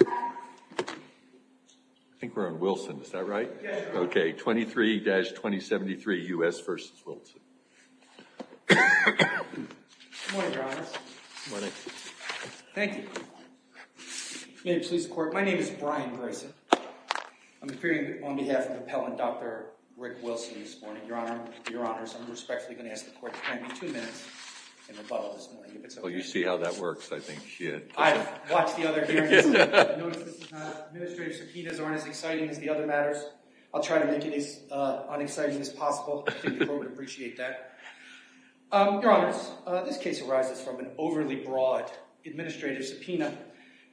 I think we're on Wilson. Is that right? Okay. 23-2073 U.S. v. Wilson. Good morning, Your Honors. Good morning. Thank you. May it please the Court, my name is Brian Grayson. I'm appearing on behalf of Appellant Dr. Rick Wilson this morning. Your Honors, I'm respectfully going to ask the Court to find me two minutes in rebuttal this morning if it's okay. Well, you see how that works, I think. I've watched the other hearings. I've noticed that the administrative subpoenas aren't as exciting as the other matters. I'll try to make it as unexciting as possible. I think the Court would appreciate that. Your Honors, this case arises from an overly broad administrative subpoena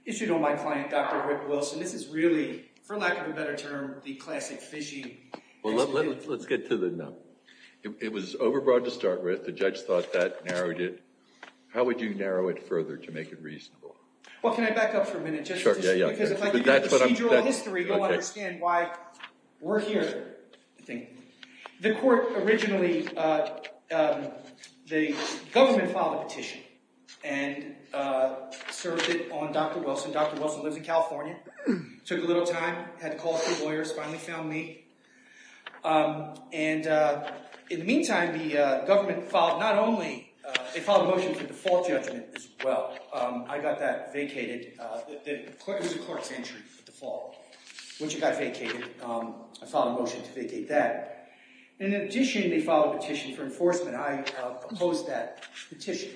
issued on my client, Dr. Rick Wilson. This is really, for lack of a better term, the classic phishing. Well, let's get to the no. It was overbroad to start with. The judge thought that narrowed it. How would you narrow it further to make it reasonable? Well, can I back up for a minute just to see? Because if I give you procedural history, you'll understand why we're here, I think. The Court originally, the government filed a petition and served it on Dr. Wilson. Dr. Wilson lives in California, took a little time, had to call a few lawyers, finally found me. And in the meantime, the government filed not only, they filed a motion for default judgment as well. I got that vacated. It was a court's entry for default, which it got vacated. I filed a motion to vacate that. In addition, they filed a petition for enforcement. I opposed that petition,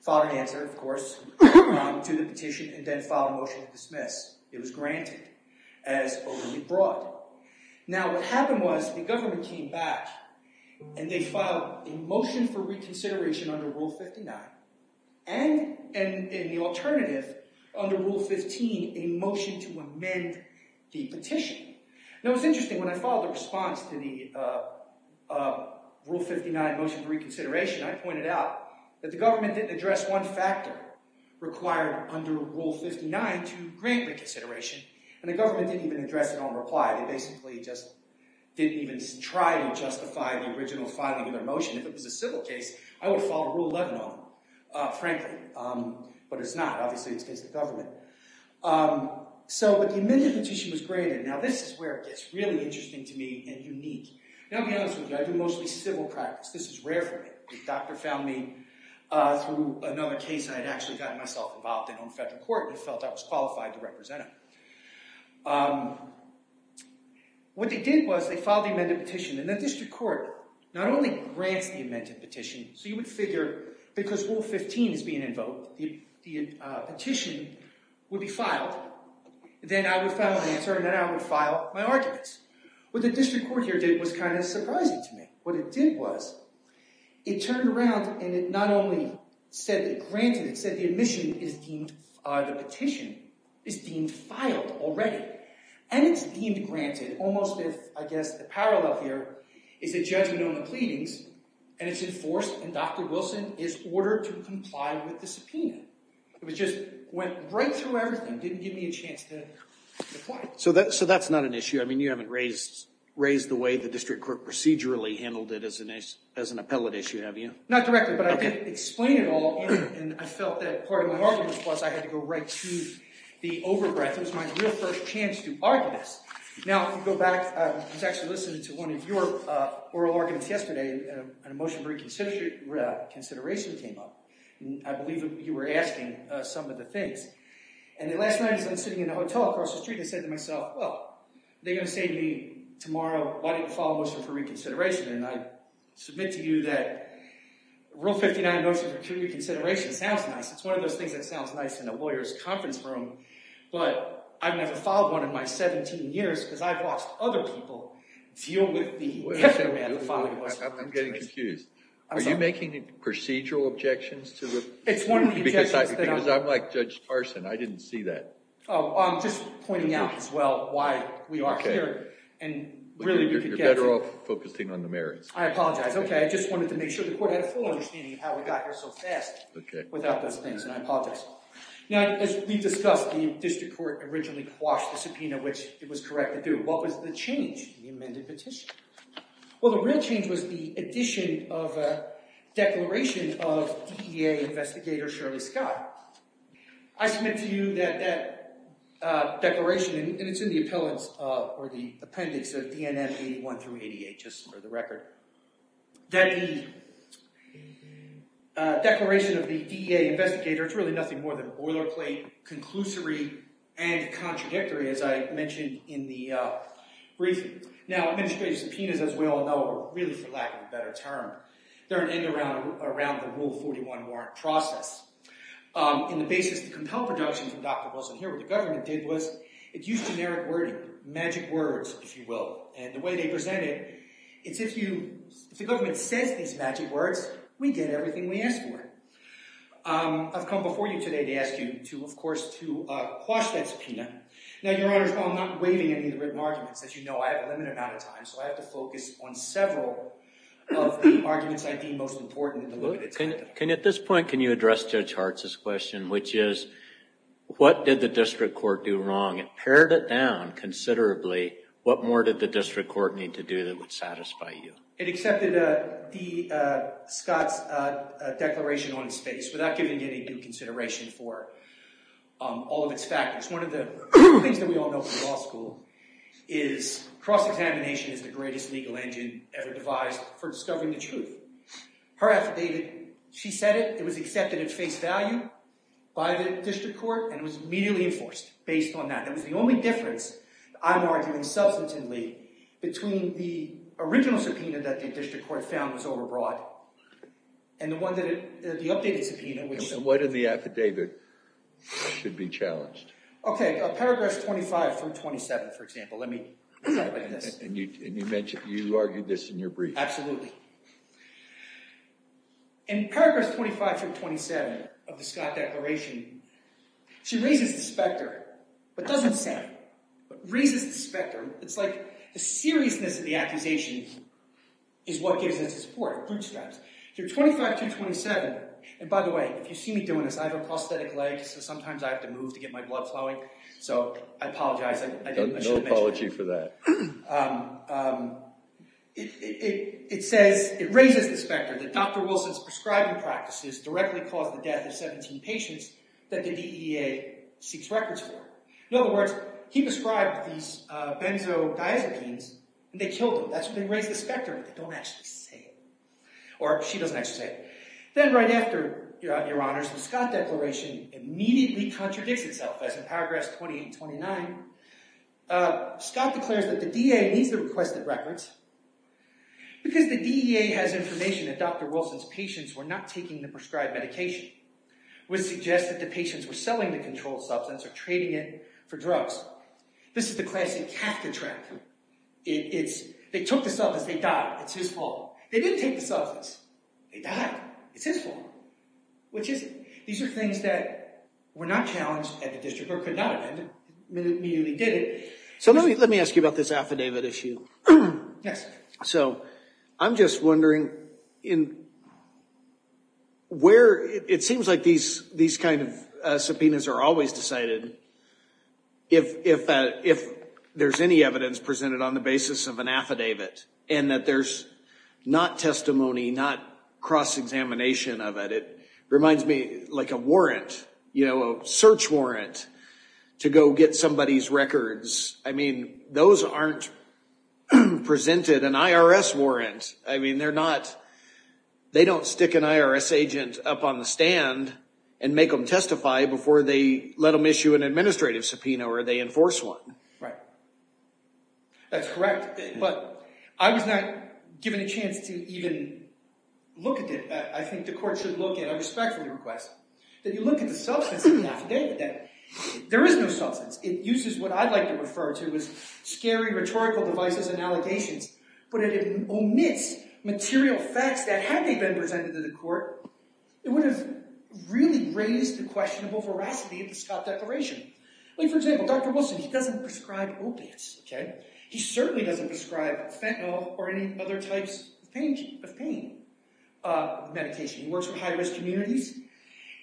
filed an answer, of course, to the petition, and then filed a motion to dismiss. It was granted as overly broad. Now, what happened was the government came back and they filed a motion for reconsideration under Rule 59, and in the alternative, under Rule 15, a motion to amend the petition. Now, it was interesting. When I filed a response to the Rule 59 motion for reconsideration, I pointed out that the government didn't address one factor required under Rule 59 to grant reconsideration, and the government didn't even address it on reply. They basically just didn't even try to justify the original filing of their motion. If it was a civil case, I would have followed Rule 11 on them, frankly. But it's not. Obviously, it's the case of the government. So, but the amendment petition was granted. Now, this is where it gets really interesting to me and unique. Now, I'll be honest with you, I do mostly civil practice. This is rare for me. The doctor found me through another case I had actually gotten myself involved in on federal court and felt I was qualified to represent him. What they did was they filed the amended petition, and the district court not only grants the amended petition, so you would figure because Rule 15 is being invoked, the petition would be filed. Then I would file an answer, and then I would file my arguments. What the district court here did was kind of surprising to me. What it did was it turned around and it not only said it granted, it said the admission is deemed, the petition is deemed filed already. And it's deemed granted almost if, I guess, the parallel here is a judgment on the pleadings, and it's enforced, and Dr. Wilson is ordered to comply with the subpoena. It just went right through everything, didn't give me a chance to comply. So that's not an issue. I mean, you haven't raised the way the district court procedurally handled it as an appellate issue, have you? Not directly, but I did explain it all, and I felt that part of my argument was I had to go right to the over-breath. It was my real first chance to argue this. Now, if you go back, I was actually listening to one of your oral arguments yesterday, and a motion for reconsideration came up. I believe you were asking some of the things. And last night as I was sitting in a hotel across the street, I said to myself, well, they're going to say to me tomorrow, why didn't you file a motion for reconsideration? And I submit to you that Rule 59 motion for reconsideration sounds nice. It's one of those things that sounds nice in a lawyer's conference room, but I've never filed one in my 17 years, because I've watched other people deal with the heft of math and filing a motion for reconsideration. I'm getting confused. Are you making procedural objections to the... It's one of the objections that I'm... Because I'm like Judge Carson. I didn't see that. Oh, I'm just pointing out as well why we are here. Okay. And really you're better off focusing on the merits. I apologize. Okay. I just wanted to make sure the court had a full understanding of how we got here so fast without those things, and I apologize. Now, as we've discussed, the district court originally quashed the subpoena, which it was correct to do. What was the change in the amended petition? Well, the real change was the addition of a declaration of DEA investigator Shirley Scott. I submit to you that that declaration, and it's in the appendix of DNM 81 through 88, just for the record, that the declaration of the DEA investigator, it's really nothing more than a boilerplate, conclusory, and contradictory, as I mentioned in the briefing. Now, administrative subpoenas, as we all know, are really, for lack of a better term, they're an end-around around the Rule 41 warrant process. And the basis to compel production from Dr. Wilson here, what the government did was it used generic wording, magic words, if you will. And the way they present it, it's if you, if the government says these magic words, we get everything we ask for. I've come before you today to ask you to, of course, to quash that subpoena. Now, Your Honor, as well, I'm not waiving any of the written arguments. As you know, I have a limited amount of time, so I have to focus on several of the arguments I deem most important to look at. At this point, can you address Judge Hartz's question, which is, what did the district court do wrong? It pared it down considerably. What more did the district court need to do that would satisfy you? It accepted the, Scott's declaration on its face without giving any due consideration for all of its factors. One of the things that we all know from law school is cross-examination is the greatest legal engine ever devised for discovering the truth. Her affidavit, she said it, it was accepted at face value by the district court, and it was immediately enforced based on that. That was the only difference, I'm arguing substantively, between the original subpoena that the district court found was overbroad and the one that it, the updated subpoena, which And what in the affidavit should be challenged? Okay, Paragraphs 25 through 27, for example. Let me look at this. And you mentioned, you argued this in your brief. Absolutely. In Paragraphs 25 through 27 of the Scott Declaration, she raises the specter, but doesn't say it, but raises the specter. It's like the seriousness of the accusation is what gives us the support, the bootstraps. So 25 through 27, and by the way, if you see me doing this, I have a prosthetic leg, so sometimes I have to move to get my blood flowing, so I apologize. No apology for that. It says, it raises the specter that Dr. Wilson's prescribing practices directly caused the death of 17 patients that the DEA seeks records for. In other words, he prescribed these benzodiazepines and they killed him. That's when they raise the specter, but they don't actually say it. Or she doesn't actually say it. Then right after, Your Honors, the Scott Declaration immediately contradicts itself. As in Paragraphs 28 and 29, Scott declares that the DEA needs the requested records because the DEA has information that Dr. Wilson's patients were not taking the prescribed medication, which suggests that the patients were selling the controlled substance or trading it for drugs. This is the classic cath contract. They took the substance. They died. It's his fault. They didn't take the substance. They died. It's his fault. These are things that were not challenged at the district or could not have been. They immediately did it. So let me ask you about this affidavit issue. Yes. So I'm just wondering, it seems like these kind of subpoenas are always decided if there's any evidence presented on the basis of an affidavit and that there's not testimony, not cross-examination of it. It reminds me like a warrant, you know, a search warrant to go get somebody's records. I mean, those aren't presented an IRS warrant. I mean, they don't stick an IRS agent up on the stand and make them testify before they let them issue an administrative subpoena or they enforce one. Right. That's correct. But I was not given a chance to even look at it. I think the court should look at, I respectfully request that you look at the substance of the affidavit. There is no substance. It uses what I'd like to refer to as scary rhetorical devices and allegations, but it omits material facts that had they been presented to the court, it would have really raised the questionable veracity of the Scott Declaration. For example, Dr. Wilson, he doesn't prescribe opiates. He certainly doesn't prescribe fentanyl or any other types of pain medication. He works for high-risk communities.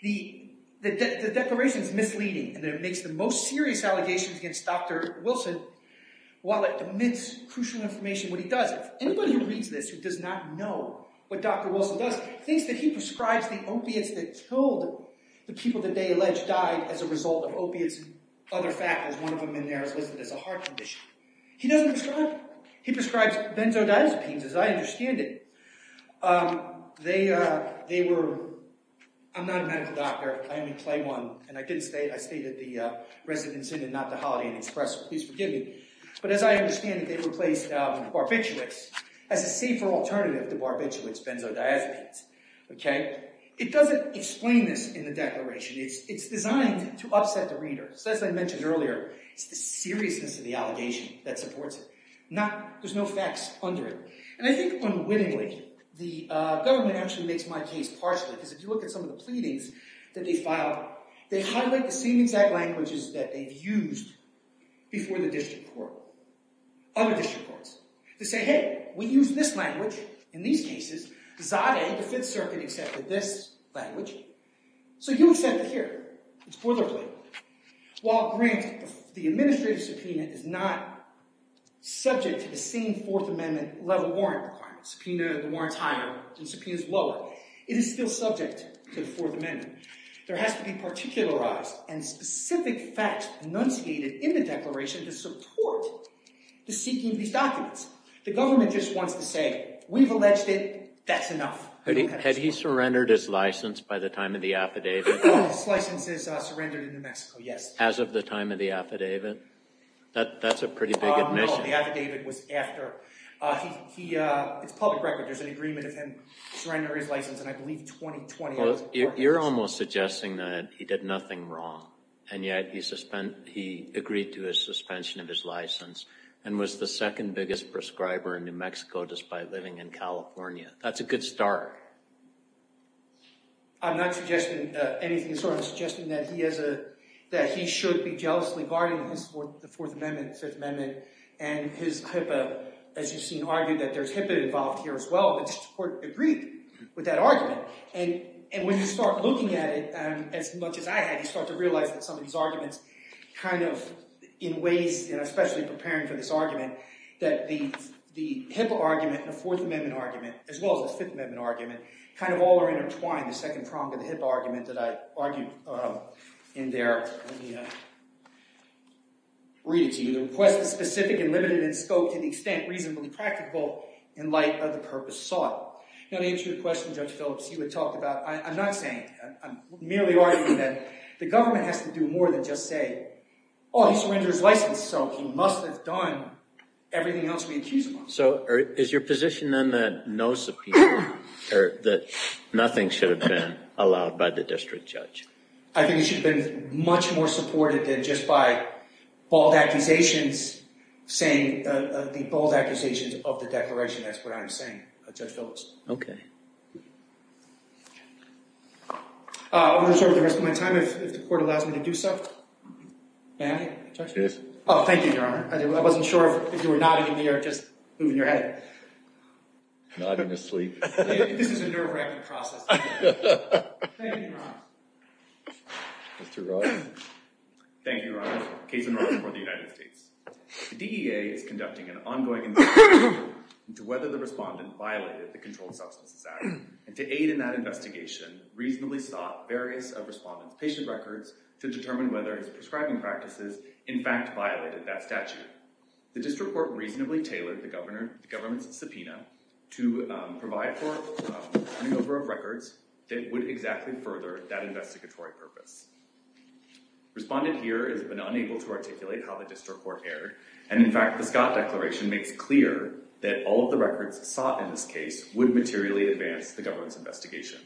The Declaration is misleading in that it makes the most serious allegations against Dr. Wilson while it omits crucial information what he does. Anybody who reads this who does not know what Dr. Wilson does thinks that he prescribes the opiates that killed the people that they treated, his other faculties, one of them in there is listed as a heart condition. He doesn't prescribe them. He prescribes benzodiazepines, as I understand it. They were, I'm not a medical doctor, I only play one, and I stated the resident's name and not the holiday and express, please forgive me, but as I understand it, they replaced barbiturates as a safer alternative to barbiturates, benzodiazepines. It doesn't explain this in the Declaration. It's designed to upset the reader. As I mentioned earlier, it's the seriousness of the allegation that supports it. There's no facts under it. And I think unwittingly, the government actually makes my case partially because if you look at some of the pleadings that they file, they highlight the same exact languages that they've used before the district court, other district courts, to say, hey, we use this language in these cases. Zadeh, the Fifth Circuit, accepted this language, so you accept it here. It's boilerplate. While grant, the administrative subpoena, is not subject to the same Fourth Amendment level warrant requirements, subpoena, the warrant's higher and subpoena's lower, it is still subject to the Fourth Amendment. There has to be particularized and specific facts enunciated in the Declaration to support the seeking of these documents. The government just wants to say, we've alleged it, that's enough. Had he surrendered his license by the time of the affidavit? His license is surrendered in New Mexico, yes. As of the time of the affidavit? That's a pretty big admission. No, the affidavit was after. It's public record, there's an agreement of him surrendering his license in, I believe, 2020. You're almost suggesting that he did nothing wrong, and yet he agreed to a suspension of his license, and was the second biggest prescriber in New Mexico, despite living in California. That's a good start. I'm not suggesting anything, sort of suggesting that he should be jealously guarding his Fourth Amendment, Fifth Amendment, and his HIPAA, as you've seen argued, that there's HIPAA involved here as well, but the court agreed with that argument. And when you start looking at it, as much as I had, you start to realize that some of these arguments kind of, in ways, and especially preparing for this argument, that the HIPAA argument and the Fourth Amendment argument, as well as the Fifth Amendment argument, kind of all are intertwined, the second prong of the HIPAA argument that I argued in there. Let me read it to you. The request is specific and limited in scope to the extent reasonably practicable in light of the purpose sought. Now, to answer your question, Judge Phillips, you had talked about, I'm not saying, I'm merely arguing that the government has to do more than just say, oh, he surrendered his license, so he must have done everything else we accuse him of. So, is your position, then, that no subpoena, or that nothing should have been allowed by the district judge? I think it should have been much more supported than just by bold accusations saying, the bold accusations of the declaration, that's what I'm saying, Judge Phillips. Okay. I will reserve the rest of my time if the court allows me to do so. May I, Judge Phillips? Oh, thank you, Your Honor. I wasn't sure if you were nodding in the air or just moving your head. Nodding asleep. This is a nerve-wracking process. Thank you, Your Honor. Mr. Rogers. Thank you, Your Honor. Case in order for the United States. The DEA is conducting an ongoing investigation into whether the respondent violated the Substances Act, and to aid in that investigation, reasonably sought various of respondent's patient records to determine whether his prescribing practices, in fact, violated that statute. The district court reasonably tailored the government's subpoena to provide for a new number of records that would exactly further that investigatory purpose. Respondent here has been unable to articulate how the district court erred, and in fact, the Scott Declaration makes clear that all of the records sought in this case would materially advance the government's investigation.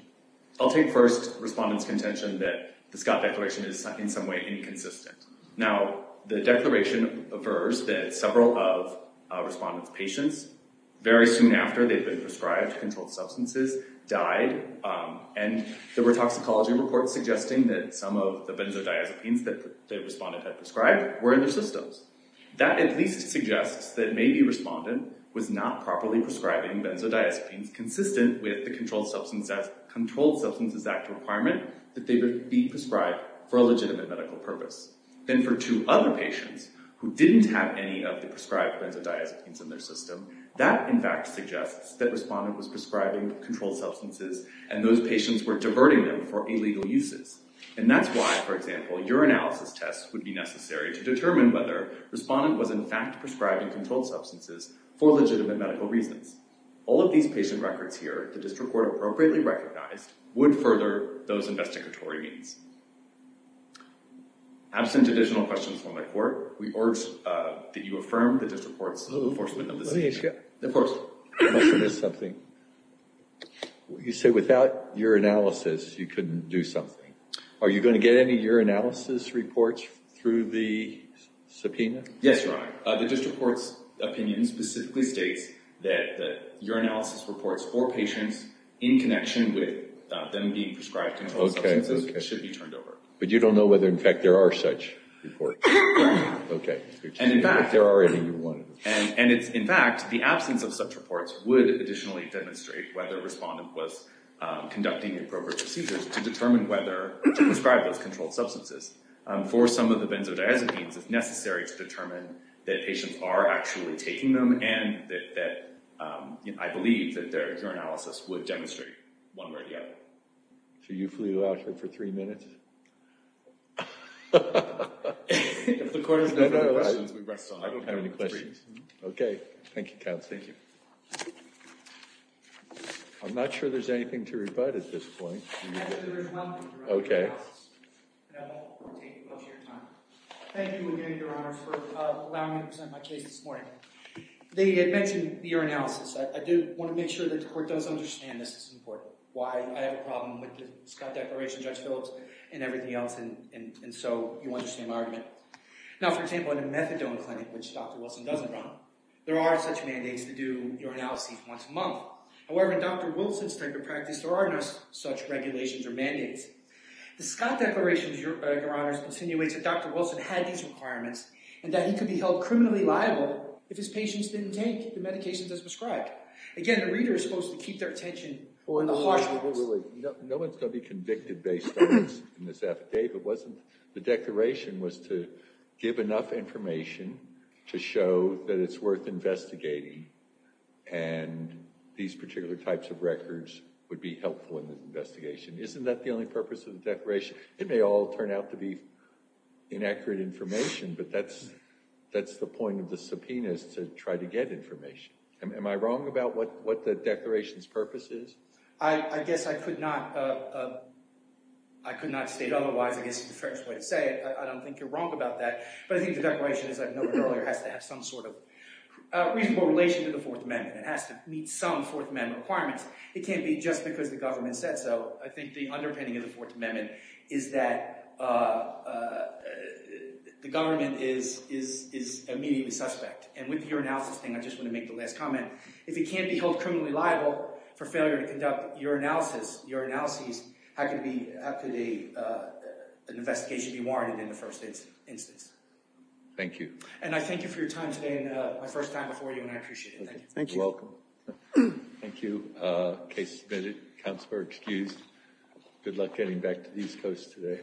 I'll take first respondent's contention that the Scott Declaration is in some way inconsistent. Now, the declaration refers that several of respondent's patients, very soon after they've been prescribed controlled substances, died, and there were toxicology reports suggesting that some of the benzodiazepines that the respondent had prescribed were in their systems. That, at least, suggests that maybe respondent was not properly prescribing benzodiazepines consistent with the Controlled Substances Act requirement that they would be prescribed for a legitimate medical purpose. Then for two other patients who didn't have any of the prescribed benzodiazepines in their system, that, in fact, suggests that respondent was prescribing controlled substances, and those patients were diverting them for illegal uses. And that's why, for example, urinalysis tests would be necessary to determine whether respondent was, in fact, prescribing controlled substances for legitimate medical reasons. All of these patient records here, the district court appropriately recognized, would further those investigatory means. Absent additional questions from my court, we urge that you affirm the district court's enforcement of this. Let me ask you something. You said without urinalysis you couldn't do something. Are you going to get any urinalysis reports through the subpoena? Yes, Your Honor. The district court's opinion specifically states that urinalysis reports for patients in connection with them being prescribed controlled substances should be turned over. But you don't know whether, in fact, there are such reports. Okay. If there are any, you're one of them. And, in fact, the absence of such reports would additionally demonstrate whether respondent was conducting appropriate procedures to determine whether to prescribe those controlled substances. For some of the benzodiazepines, it's necessary to determine that patients are actually taking them, and that I believe that their urinalysis would demonstrate one way or the other. So you flew out here for three minutes? If the court has no further questions, we rest on it. I don't have any questions. Okay. Thank you, counsel. Thank you. I'm not sure there's anything to rebut at this point. I think there is one thing to rebut. Okay. And I won't take up your time. Thank you again, Your Honor, for allowing me to present my case this morning. They had mentioned urinalysis. I do want to make sure that the court does understand this is important, why I have a problem with the Scott Declaration, Judge Phillips, and everything else, and so you want the same argument. Now, for example, in a methadone clinic, which Dr. Wilson doesn't run, there are such mandates to do urinalysis once a month. However, in Dr. Wilson's type of practice, there are no such regulations or mandates. The Scott Declaration, Your Honors, continuates that Dr. Wilson had these requirements and that he could be held criminally liable if his patients didn't take the medications as prescribed. Again, the reader is supposed to keep their attention on the harshness. No one is going to be convicted based on this affidavit. The Declaration was to give enough information to show that it's worth investigating and these particular types of records would be helpful in the investigation. Isn't that the only purpose of the Declaration? It may all turn out to be inaccurate information, but that's the point of the subpoenas, to try to get information. Am I wrong about what the Declaration's purpose is? I guess I could not state otherwise. I guess it's a strange way to say it. I don't think you're wrong about that, but I think the Declaration, as I've noted earlier, has to have some sort of reasonable relation to the Fourth Amendment. It has to meet some Fourth Amendment requirements. It can't be just because the government said so. I think the underpinning of the Fourth Amendment is that the government is immediately suspect, and with the urinalysis thing, I just want to make the last comment. If it can't be held criminally liable for failure to conduct urinalysis, how could an investigation be warranted in the first instance? Thank you. And I thank you for your time today and my first time before you, and I appreciate it. Thank you. You're welcome. Thank you. Case submitted. Counselor excused. Good luck getting back to the East Coast today.